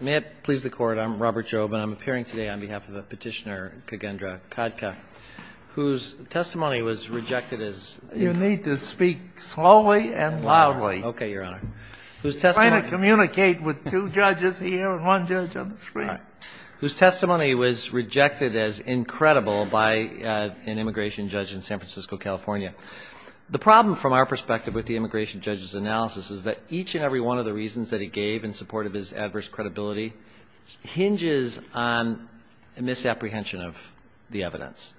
May it please the Court, I'm Robert Jobe, and I'm appearing today on behalf of Petitioner Cagendra Khadka, whose testimony was rejected as incredible by an immigration judge in San Francisco, California. The problem from our perspective with the immigration judge's analysis is that each and every one of the reasons that he gave in support of his adverse credibility hinges on a misapprehension of the evidence.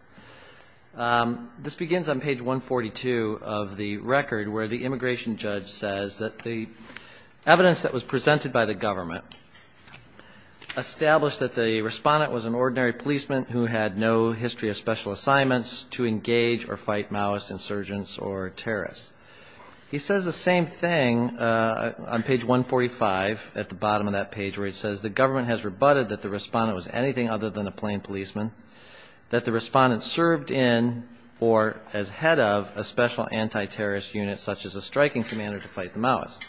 This begins on page 142 of the record where the immigration judge says that the evidence that was presented by the government established that the respondent was an ordinary policeman who had no history of special assignments to engage or fight Maoist insurgents or terrorists. He says the same thing on page 145 at the bottom of that page where he says the government has rebutted that the respondent was anything other than a plain policeman, that the respondent served in or as head of a special anti-terrorist unit such as a striking commander to fight the Maoists.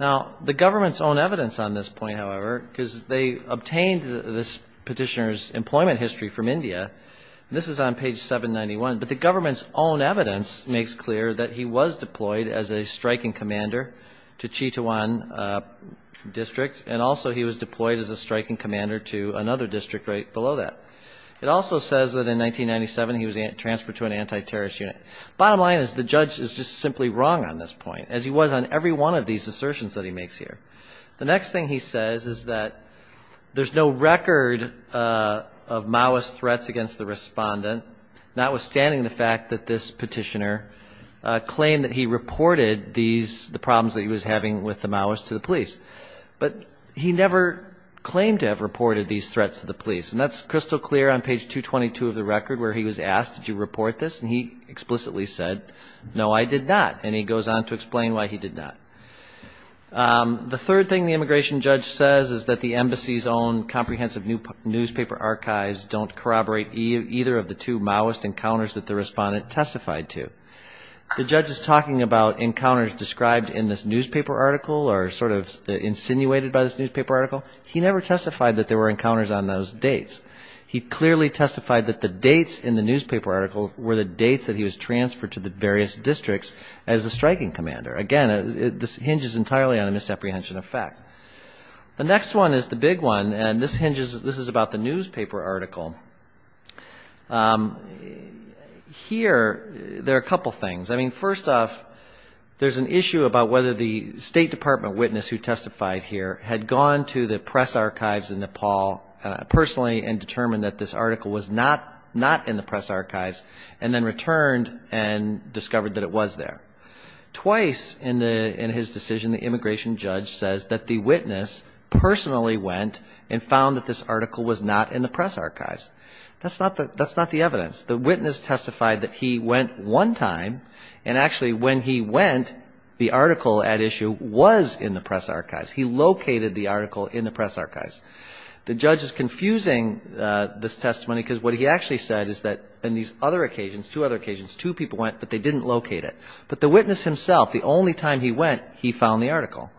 Now the government's own evidence on this point, however, because they obtained this petitioner's employment history from India, this is on page 791, but the government's own evidence makes clear that he was deployed as a striking commander to Chitwan District and also he was deployed as a striking commander to another district right below that. It also says that in 1997 he was transferred to an anti-terrorist unit. Bottom line is the judge is just simply wrong on this point, as he was on every one of these assertions that he makes here. The next thing he says is that there's no record of Maoist threats against the respondent, notwithstanding the fact that this petitioner claimed that he reported the problems that he was having with the Maoists to the police. But he never claimed to have reported these threats to the police, and that's crystal clear on page 222 of the record where he was asked, did you report this? And he explicitly said, no, I did not, and he goes on to explain why he did not. The third thing the immigration judge says is that the embassy's own comprehensive newspaper archives don't corroborate either of the two Maoist encounters that the respondent testified to. The judge is talking about encounters described in this newspaper article or sort of insinuated by this newspaper article. He never testified that there were encounters on those dates. He clearly testified that the dates in the newspaper article were the dates that he was transferred to the various districts as a striking commander. Again, this hinges entirely on a misapprehension of fact. The next one is the big one, and this hinges, this is about the newspaper article. Here, there are a couple things. I mean, first off, there's an issue about whether the State Department witness who testified here had gone to the press archives in Nepal personally and determined that this article was not in the press archives, and then returned and discovered that it was there. Twice in his decision, the immigration judge says that the witness personally went and found that this article was not in the press archives. That's not the evidence. The witness testified that he went one time, and actually when he went, the article at issue was in the press archives. He located the article in the press archives. The judge is confusing this testimony because what he actually said is that in these other occasions, two other occasions, two people went, but they didn't locate it. But the witness himself, the only time he went, he found the article.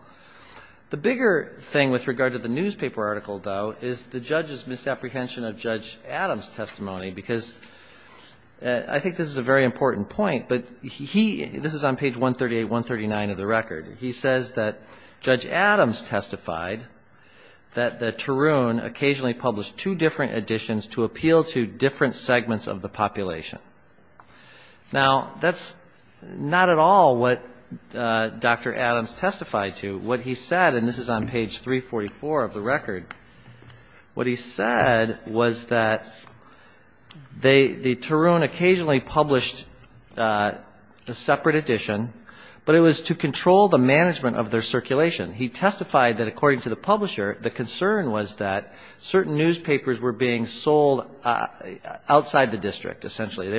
The bigger thing with regard to the newspaper article, though, is the judge's misapprehension of Judge Adams' testimony, because I think this is a very important point, but he, this is on page 138, 139 of the record. He says that Judge Adams testified that Tarun occasionally published two different editions to appeal to different segments of the population. Now, that's not at all what Dr. Adams testified to. What he said, and this is on page 344 of the record, what he said was that the Tarun occasionally published a separate edition, but it was to control the management of their circulation. He testified that according to the publisher, the concern was that certain newspapers were being sold outside the district, essentially.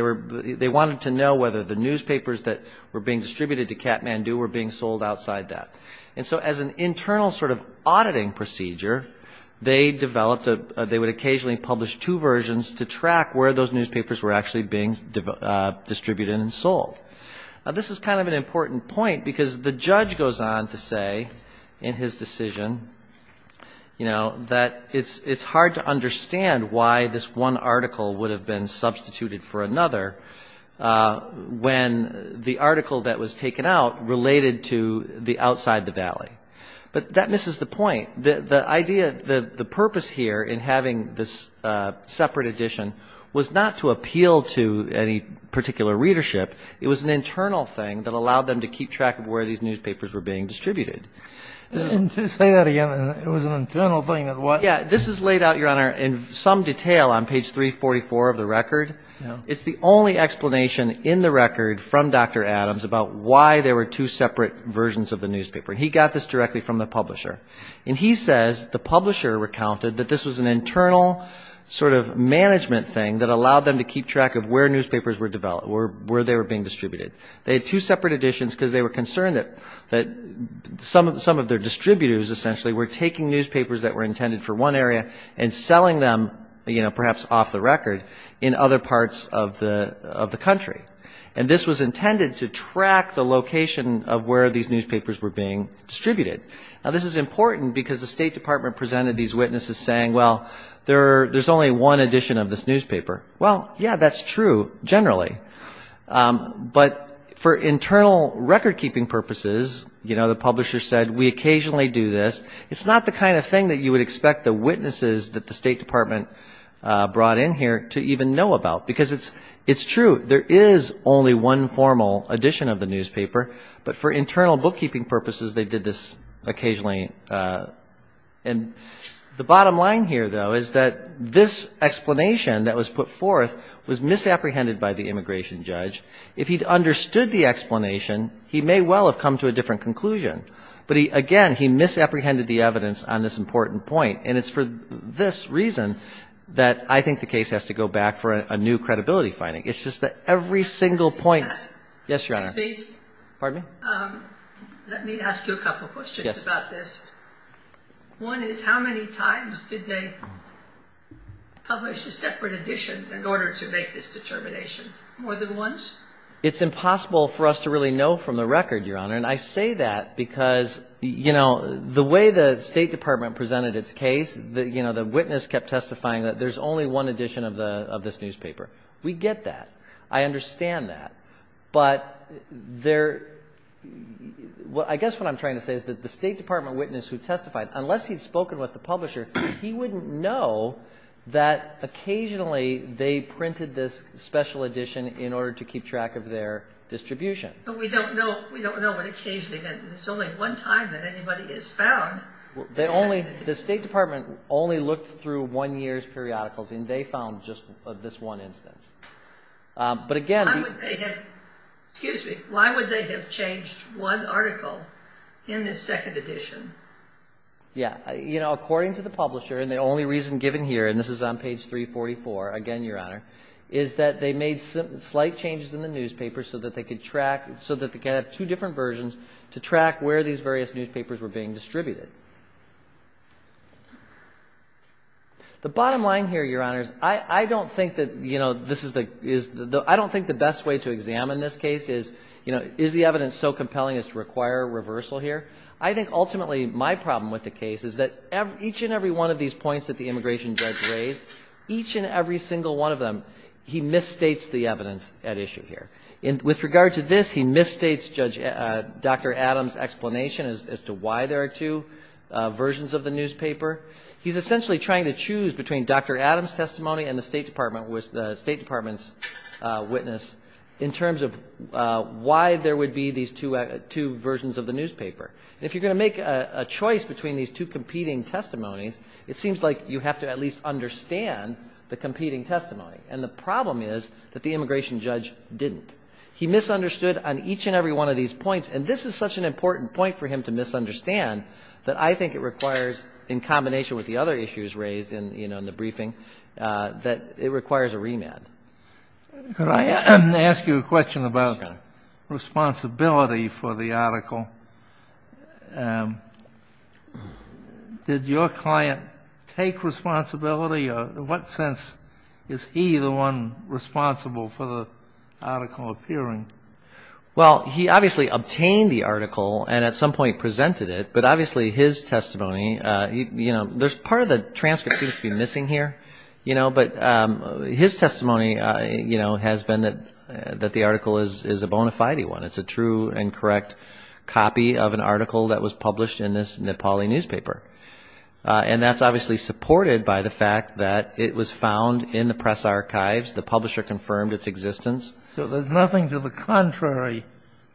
They wanted to know whether the newspapers that were being distributed to Kathmandu were being sold outside that. And so as an internal sort of auditing procedure, they developed, they would occasionally publish two versions to track where those newspapers were actually being distributed and sold. This is kind of an important point because the judge goes on to say in his decision, you know, that it's hard to understand why this one article would have been substituted for another when the article that was taken out related to the outside the valley. But that misses the point. The idea, the purpose here in having this separate edition was not to appeal to any particular readership. It was an internal thing that allowed them to keep track of where these newspapers were being distributed. Say that again. It was an internal thing that allowed them to keep track of where these newspapers were being distributed. This is laid out, Your Honor, in some detail on page 344 of the record. It's the only explanation in the record from Dr. Adams about why there were two separate versions of the newspaper. And he got this directly from the publisher. And he says the publisher recounted that this was an internal sort of management thing that allowed them to keep track of where newspapers were developed, where they were being distributed. They had two separate editions because they were concerned that some of their distributors essentially were taking newspapers that were intended for one area and selling them, you know, perhaps off the record in other parts of the country. And this was intended to track the location of where these newspapers were being distributed. Now, this is important because the State Department presented these witnesses saying, well, there's only one edition of this newspaper. Well, yeah, that's true generally. But for internal recordkeeping purposes, you know, the publisher said, we occasionally do this. It's not the kind of thing that you would expect the witnesses that the State Department brought in here to even know about because it's true. There is only one formal edition of the newspaper. But for internal bookkeeping purposes, they did this occasionally. And the bottom line here, though, is that this explanation that was put forth was misapprehended by the immigration judge. If he'd understood the explanation, he may well have come to a different conclusion. But again, he misapprehended the evidence on this important point. And it's for this reason that I think the case has to go back for a new credibility finding. It's just that every single point... Yes, Your Honor. Excuse me. Pardon me? Let me ask you a couple of questions about this. Yes. One is, how many times did they publish a separate edition in order to make this determination? More than once? It's impossible for us to really know from the record, Your Honor. And I say that because, you know, the way the State Department presented its case, you know, the witness kept testifying that there's only one edition of this newspaper. We get that. I understand that. But there... I guess what I'm trying to say is that the State Department witness who testified, unless he'd spoken with the publisher, he wouldn't know that occasionally they printed this special edition in order to keep track of their distribution. But we don't know... We don't know what occasionally... There's only one time that anybody is found. They only... The State Department only looked through one year's periodicals and they found just this one instance. But again... Why would they have... Excuse me. Why would they have changed one article in this second edition? Yeah. You know, according to the publisher, and the only reason given here, and this is on page 344, again, Your Honor, is that they made slight changes in the newspaper so that they could track... So that they could have two different versions to track where these various newspapers were being distributed. The bottom line here, Your Honor, is I don't think that, you know, this is the... I don't think the best way to examine this case is, you know, is the evidence so compelling as to require reversal here? I think, ultimately, my problem with the case is that each and every one of these points that the immigration judge raised, each and every single one of them, he misstates the evidence at issue here. With regard to this, he misstates Dr. Adams' explanation as to why there are two versions of the newspaper. He's essentially trying to choose between Dr. Adams' testimony and the State Department's witness in terms of why there would be these two versions of the newspaper. If you're going to make a choice between these two competing testimonies, it seems like you have to at least understand the competing testimony. And the problem is that the immigration judge didn't. He misunderstood on each and every one of these points, and this is such an important point for him to misunderstand that I think it requires, in combination with the other Could I ask you a question about responsibility for the article? Did your client take responsibility, or in what sense is he the one responsible for the article appearing? Well, he obviously obtained the article and at some point presented it, but obviously his testimony, you know, there's part of the transcript seems to be missing here, you know, but his testimony, you know, has been that the article is a bona fide one. It's a true and correct copy of an article that was published in this Nepali newspaper. And that's obviously supported by the fact that it was found in the press archives. The publisher confirmed its existence. So there's nothing to the contrary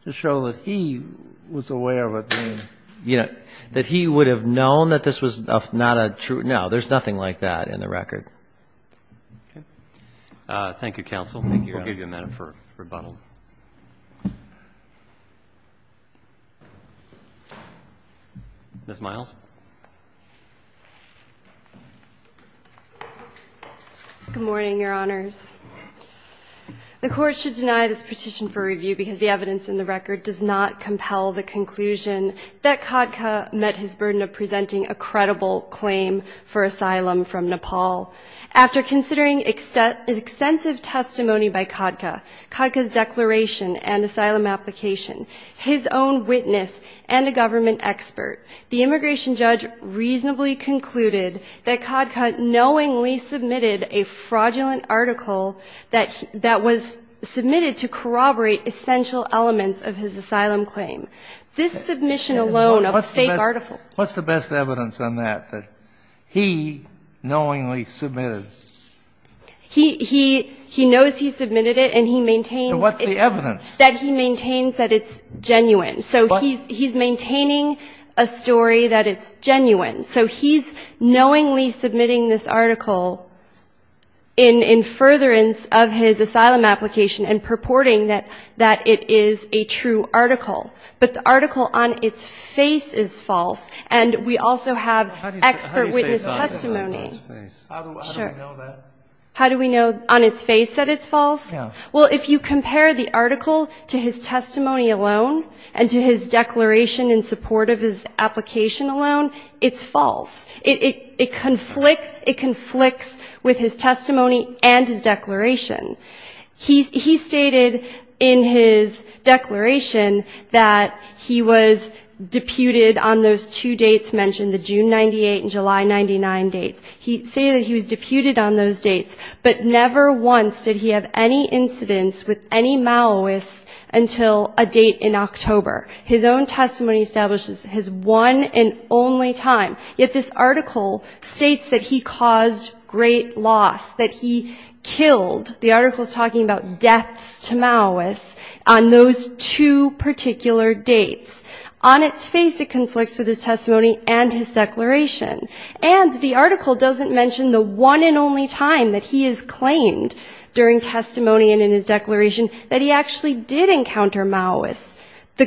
to show that he was aware of it. Yeah, that he would have known that this was not a true, no, there's nothing like that in the record. Okay. Thank you, counsel. Thank you. We'll give you a minute for rebuttal. Ms. Miles? Good morning, your honors. The court should deny this petition for review because the evidence in the record does not compel the conclusion that Khadka met his burden of presenting a credible claim for asylum from Nepal. After considering extensive testimony by Khadka, Khadka's declaration and asylum application, his own witness, and a government expert, the immigration judge reasonably concluded that Khadka knowingly submitted a fraudulent article that was submitted to corroborate essential elements of his asylum claim. This submission alone of a fake article. What's the best evidence on that, that he knowingly submitted? He knows he submitted it and he maintains that it's genuine. So he's maintaining a story that it's genuine. So he's knowingly submitting this article in furtherance of his asylum application and purporting that it is a true article. But the article on its face is false. And we also have expert witness testimony. How do we know on its face that it's false? Well, if you compare the article to his testimony alone and to his declaration in support of his application alone, it's false. It conflicts with his testimony and his declaration. He stated in his declaration that he was deputed on those two dates mentioned, the June 98 and July 99 dates. He stated that he was deputed on those dates, but never once did he have any incidents with any Maoists until a date in October. His own testimony establishes his one and only time, yet this article states that he The article is talking about deaths to Maoists on those two particular dates. On its face, it conflicts with his testimony and his declaration. And the article doesn't mention the one and only time that he has claimed during testimony and in his declaration that he actually did encounter Maoists.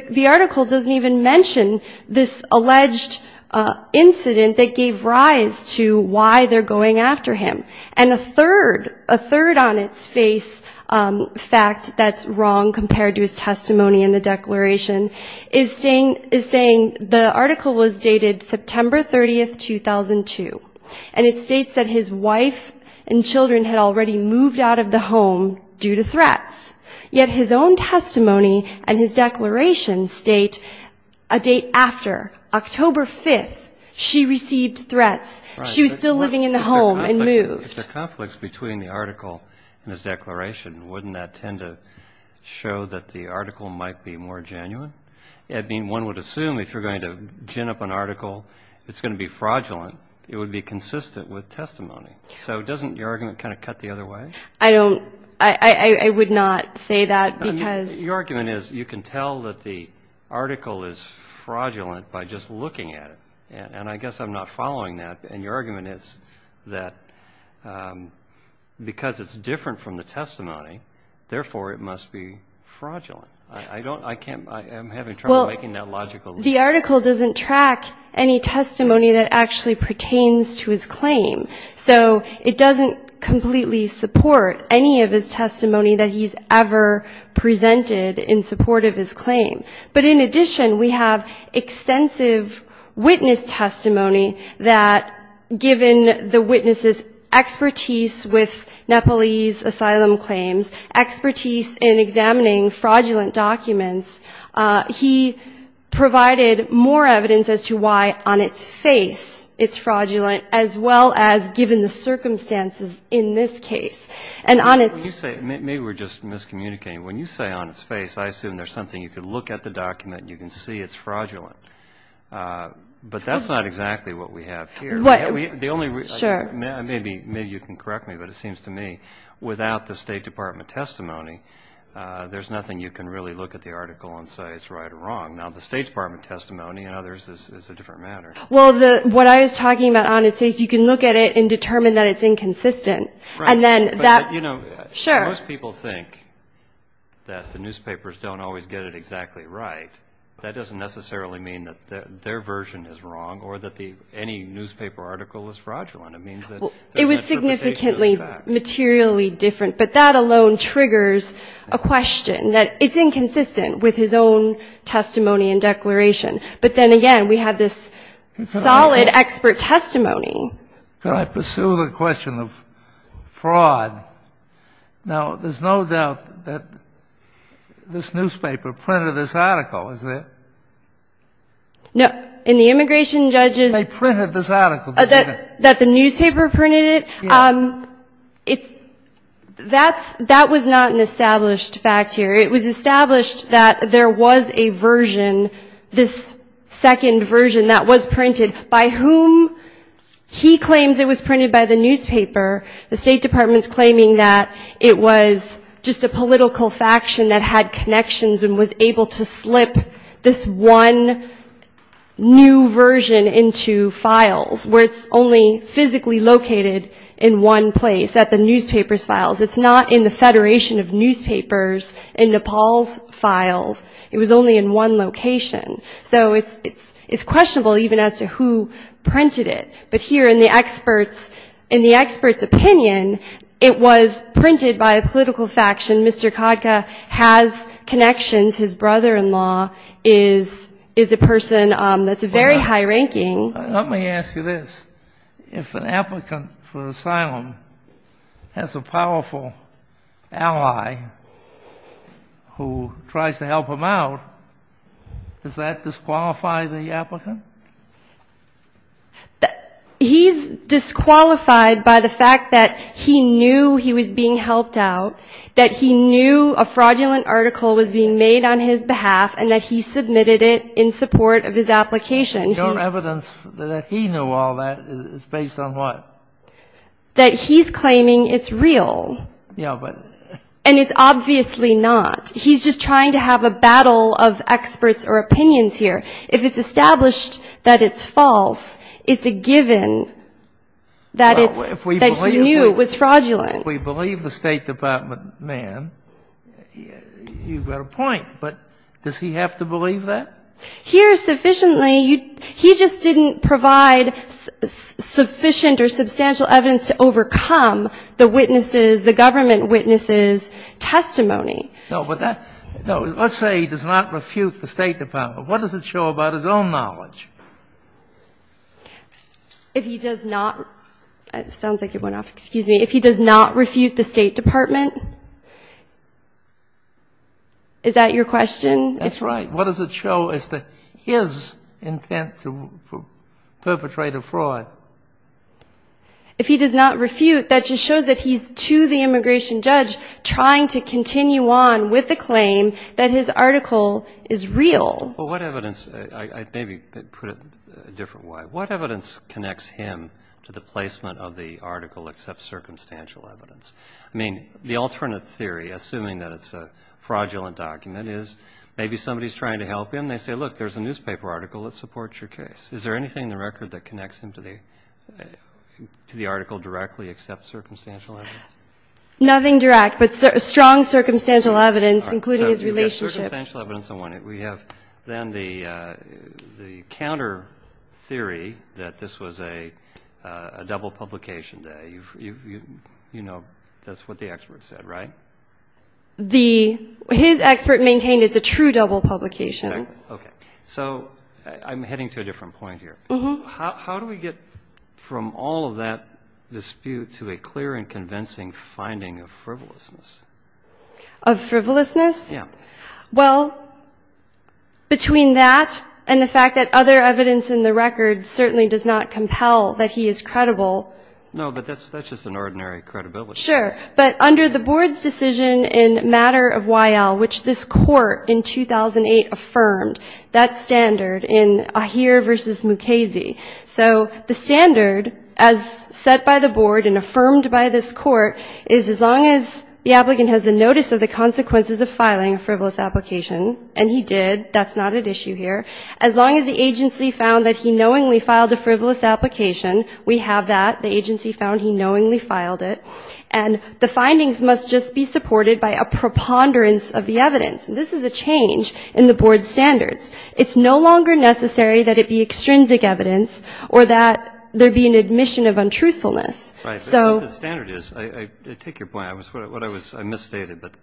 The article doesn't even mention this alleged incident that gave rise to why they're going after him. And a third, a third on its face fact that's wrong compared to his testimony and the declaration is saying the article was dated September 30th, 2002. And it states that his wife and children had already moved out of the home due to threats. Yet his own testimony and his declaration state a date after, October 5th, she received threats. She was still living in the home and moved. If there are conflicts between the article and his declaration, wouldn't that tend to show that the article might be more genuine? I mean, one would assume if you're going to gin up an article, it's going to be fraudulent. It would be consistent with testimony. So doesn't your argument kind of cut the other way? I don't, I would not say that because. Your argument is you can tell that the article is fraudulent by just looking at it. And I guess I'm not following that. And your argument is that because it's different from the testimony, therefore it must be fraudulent. I don't, I can't, I'm having trouble making that logical. The article doesn't track any testimony that actually pertains to his claim. So it doesn't completely support any of his testimony that he's ever presented in support of his claim. But in addition, we have extensive witness testimony that given the witness's expertise with Nepalese asylum claims, expertise in examining fraudulent documents, he provided more evidence as to why on its face it's fraudulent as well as given the circumstances in this case. And on its. When you say, maybe we're just miscommunicating. When you say on its face, I assume there's something you could look at the document and you can see it's fraudulent. But that's not exactly what we have here. The only. Sure. Maybe, maybe you can correct me, but it seems to me without the State Department testimony, there's nothing you can really look at the article and say it's right or wrong. Now the State Department testimony and others is a different matter. Well, the, what I was talking about on its face, you can look at it and determine that it's inconsistent. And then that. Sure. Most people think that the newspapers don't always get it exactly right. That doesn't necessarily mean that their version is wrong or that the, any newspaper article is fraudulent. It means that. It was significantly materially different, but that alone triggers a question that it's inconsistent with his own testimony and declaration. But then again, we have this solid expert testimony. Can I pursue the question of fraud? Now, there's no doubt that this newspaper printed this article, isn't it? No. In the immigration judges. They printed this article. That the newspaper printed it. It's that's, that was not an established fact here. It was established that there was a version, this second version that was printed by whom he claims it was printed by the newspaper. The state department's claiming that it was just a political faction that had connections and was able to slip this one new version into files where it's only physically located in one place at the newspapers files. It's not in the Federation of newspapers in Nepal's files. It was only in one location. So it's questionable even as to who printed it. But here in the expert's opinion, it was printed by a political faction. Mr. Khadka has connections. His brother-in-law is a person that's very high ranking. Let me ask you this. If an applicant for asylum has a powerful ally who tries to help him out, does that disqualify the applicant? He's disqualified by the fact that he knew he was being helped out, that he knew a fraudulent article was being made on his behalf, and that he submitted it in support of his application. Your evidence that he knew all that is based on what? That he's claiming it's real. And it's obviously not. He's just trying to have a battle of experts or opinions here. If it's established that it's false, it's a given that he knew it was fraudulent. If we believe the State Department man, you've got a point. But does he have to believe that? Here, sufficiently, he just didn't provide sufficient or substantial evidence to overcome the government witness's testimony. No, but let's say he does not refute the State Department. What does it show about his own knowledge? If he does not, it sounds like it went off. Excuse me. If he does not refute the State Department, is that your question? That's right. What does it show as to his intent to perpetrate a fraud? If he does not refute, that just shows that he's, to the immigration judge, trying to continue on with the claim that his article is real. Well, what evidence, maybe put it a different way, what evidence connects him to the placement of the article except circumstantial evidence? I mean, the alternate theory, assuming that it's a fraudulent document, is maybe somebody's trying to help him, they say, look, there's a newspaper article that supports your case. Is there anything in the record that connects him to the article directly except circumstantial evidence? Nothing direct, but strong circumstantial evidence, including his relationship. So you've got circumstantial evidence on one end. We have then the counter theory that this was a double publication day. You know, that's what the expert said, right? His expert maintained it's a true double publication. Okay. So I'm heading to a different point here. How do we get from all of that dispute to a clear and convincing finding of frivolousness? Of frivolousness? Yeah. Well, between that and the fact that other evidence in the record certainly does not compel that he is credible. No, but that's just an ordinary credibility. Sure. But under the board's decision in matter of YL, which this court in 2008 affirmed, that standard in Ahir versus Mukasey. So the standard, as set by the board and affirmed by this court, is as long as the applicant has a notice of the consequences of filing a frivolous application, and he did, that's not at issue here, as long as the agency found that he knowingly filed a frivolous application, we have that. The agency found he knowingly filed it. And the findings must just be supported by a preponderance of the evidence. And this is a change in the board's standards. It's no longer necessary that it be extrinsic evidence or that there be an admission of untruthfulness. Right. But the standard is, I take your point. I was, what I was, I misstated. But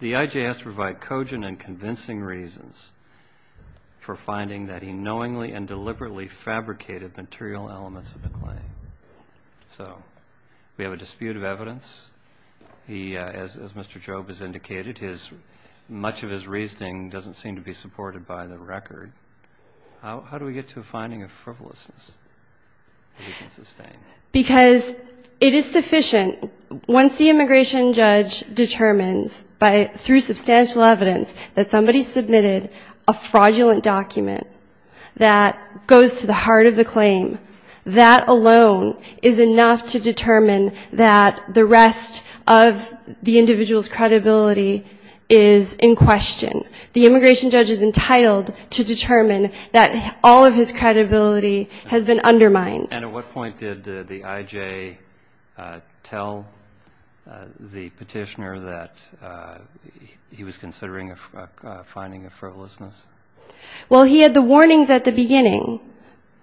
the IJ has to provide cogent and convincing reasons for finding that he knowingly and unknowingly submitted the claim. So we have a dispute of evidence. He, as Mr. Job has indicated, his, much of his reasoning doesn't seem to be supported by the record. How do we get to a finding of frivolousness that we can sustain? Because it is sufficient, once the immigration judge determines by, through substantial evidence, that somebody submitted a fraudulent document that goes to the heart of the claim, that alone is enough to determine that the rest of the individual's credibility is in question. The immigration judge is entitled to determine that all of his credibility has been undermined. And at what point did the IJ tell the petitioner that he was considering a finding of frivolousness?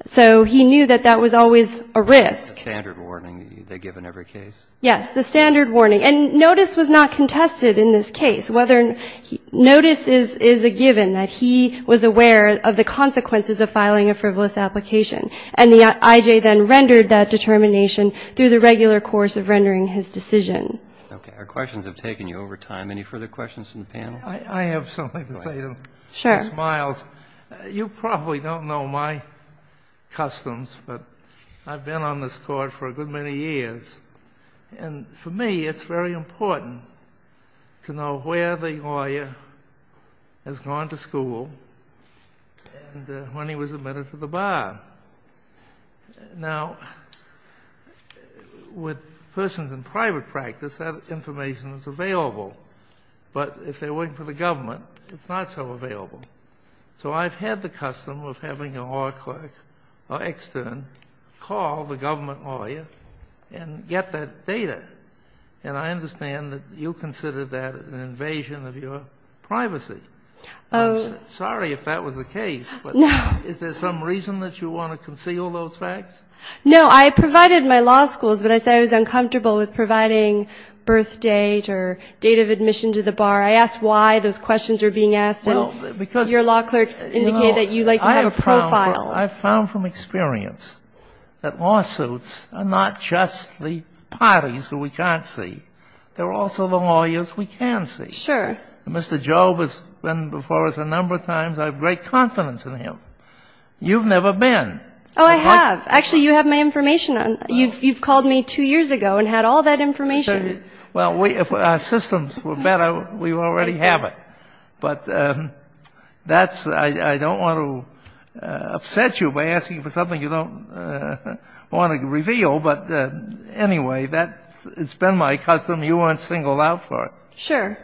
So he knew that that was always a risk. The standard warning they give in every case? Yes, the standard warning. And notice was not contested in this case. Notice is a given that he was aware of the consequences of filing a frivolous application. And the IJ then rendered that determination through the regular course of rendering his decision. Okay. Our questions have taken you over time. Any further questions from the panel? I have something to say to Ms. Miles. Sure. You probably don't know my customs, but I've been on this court for a good many years. And for me, it's very important to know where the lawyer has gone to school and when he was admitted to the bar. Now, with persons in private practice, that information is available. But if they're working for the government, it's not so available. So I've had the custom of having a law clerk or extern call the government lawyer and get that data. And I understand that you consider that an invasion of your privacy. I'm sorry if that was the case, but is there some reason that you want to conceal those facts? No. I provided my law schools, but I said I was uncomfortable with providing birth date or date of admission to the bar. I asked why those questions were being asked. Your law clerks indicated that you like to have a profile. I found from experience that lawsuits are not just the parties who we can't see. They're also the lawyers we can see. Sure. Mr. Jobe has been before us a number of times. I have great confidence in him. You've never been. Oh, I have. Actually, you have my information. You've called me two years ago and had all that information. Well, if our systems were better, we already have it. But that's – I don't want to upset you by asking for something you don't want to reveal. But anyway, that has been my custom. You aren't singled out for it. Sure.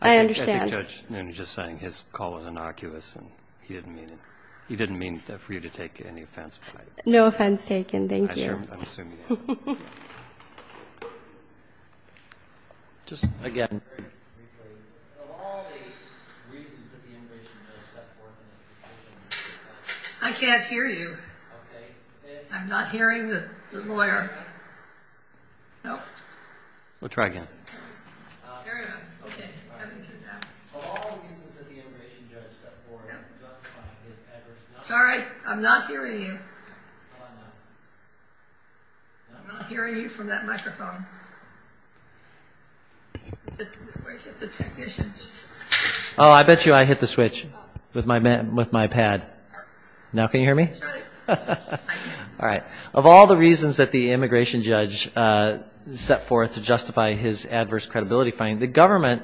I understand. I think Judge Noonan is just saying his call was innocuous and he didn't mean it. He didn't mean for you to take any offense. No offense taken. Thank you. I'm assuming. Just again. Of all the reasons that the immigration judge set forth in his decision – I can't hear you. Okay. I'm not hearing the lawyer. No? We'll try again. Of all the reasons that the immigration judge set forth – Sorry, I'm not hearing you. I'm not hearing you from that microphone. Where did the technicians go? Oh, I bet you I hit the switch with my pad. Now can you hear me? All right. Of all the reasons that the immigration judge set forth to justify his adverse credibility finding, the government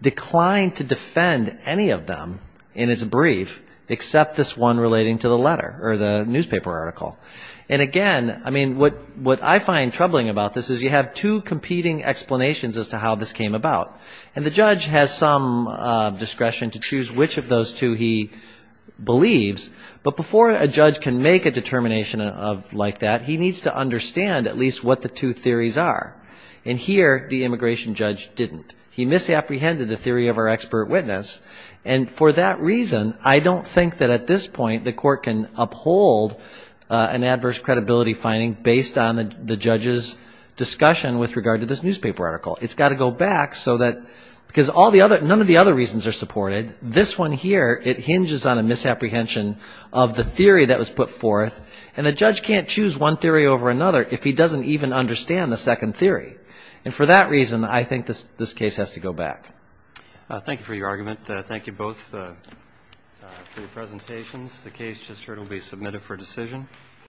declined to defend any of them in its brief except this one relating to the letter or the newspaper article. And again, I mean, what I find troubling about this is you have two competing explanations as to how this came about. And the judge has some discretion to choose which of those two he believes. But before a judge can make a determination like that, he needs to understand at least what the two theories are. And here, the immigration judge didn't. He misapprehended the theory of our expert witness. And for that reason, I don't think that at this point the court can uphold an adverse credibility finding based on the judge's discussion with regard to this newspaper article. It's got to go back so that – because none of the other reasons are supported. This one here, it hinges on a misapprehension of the theory that was put forth. And the judge can't choose one theory over another if he doesn't even understand the second theory. And for that reason, I think this case has to go back. Thank you for your argument. Thank you both for your presentations. The case just heard will be submitted for decision.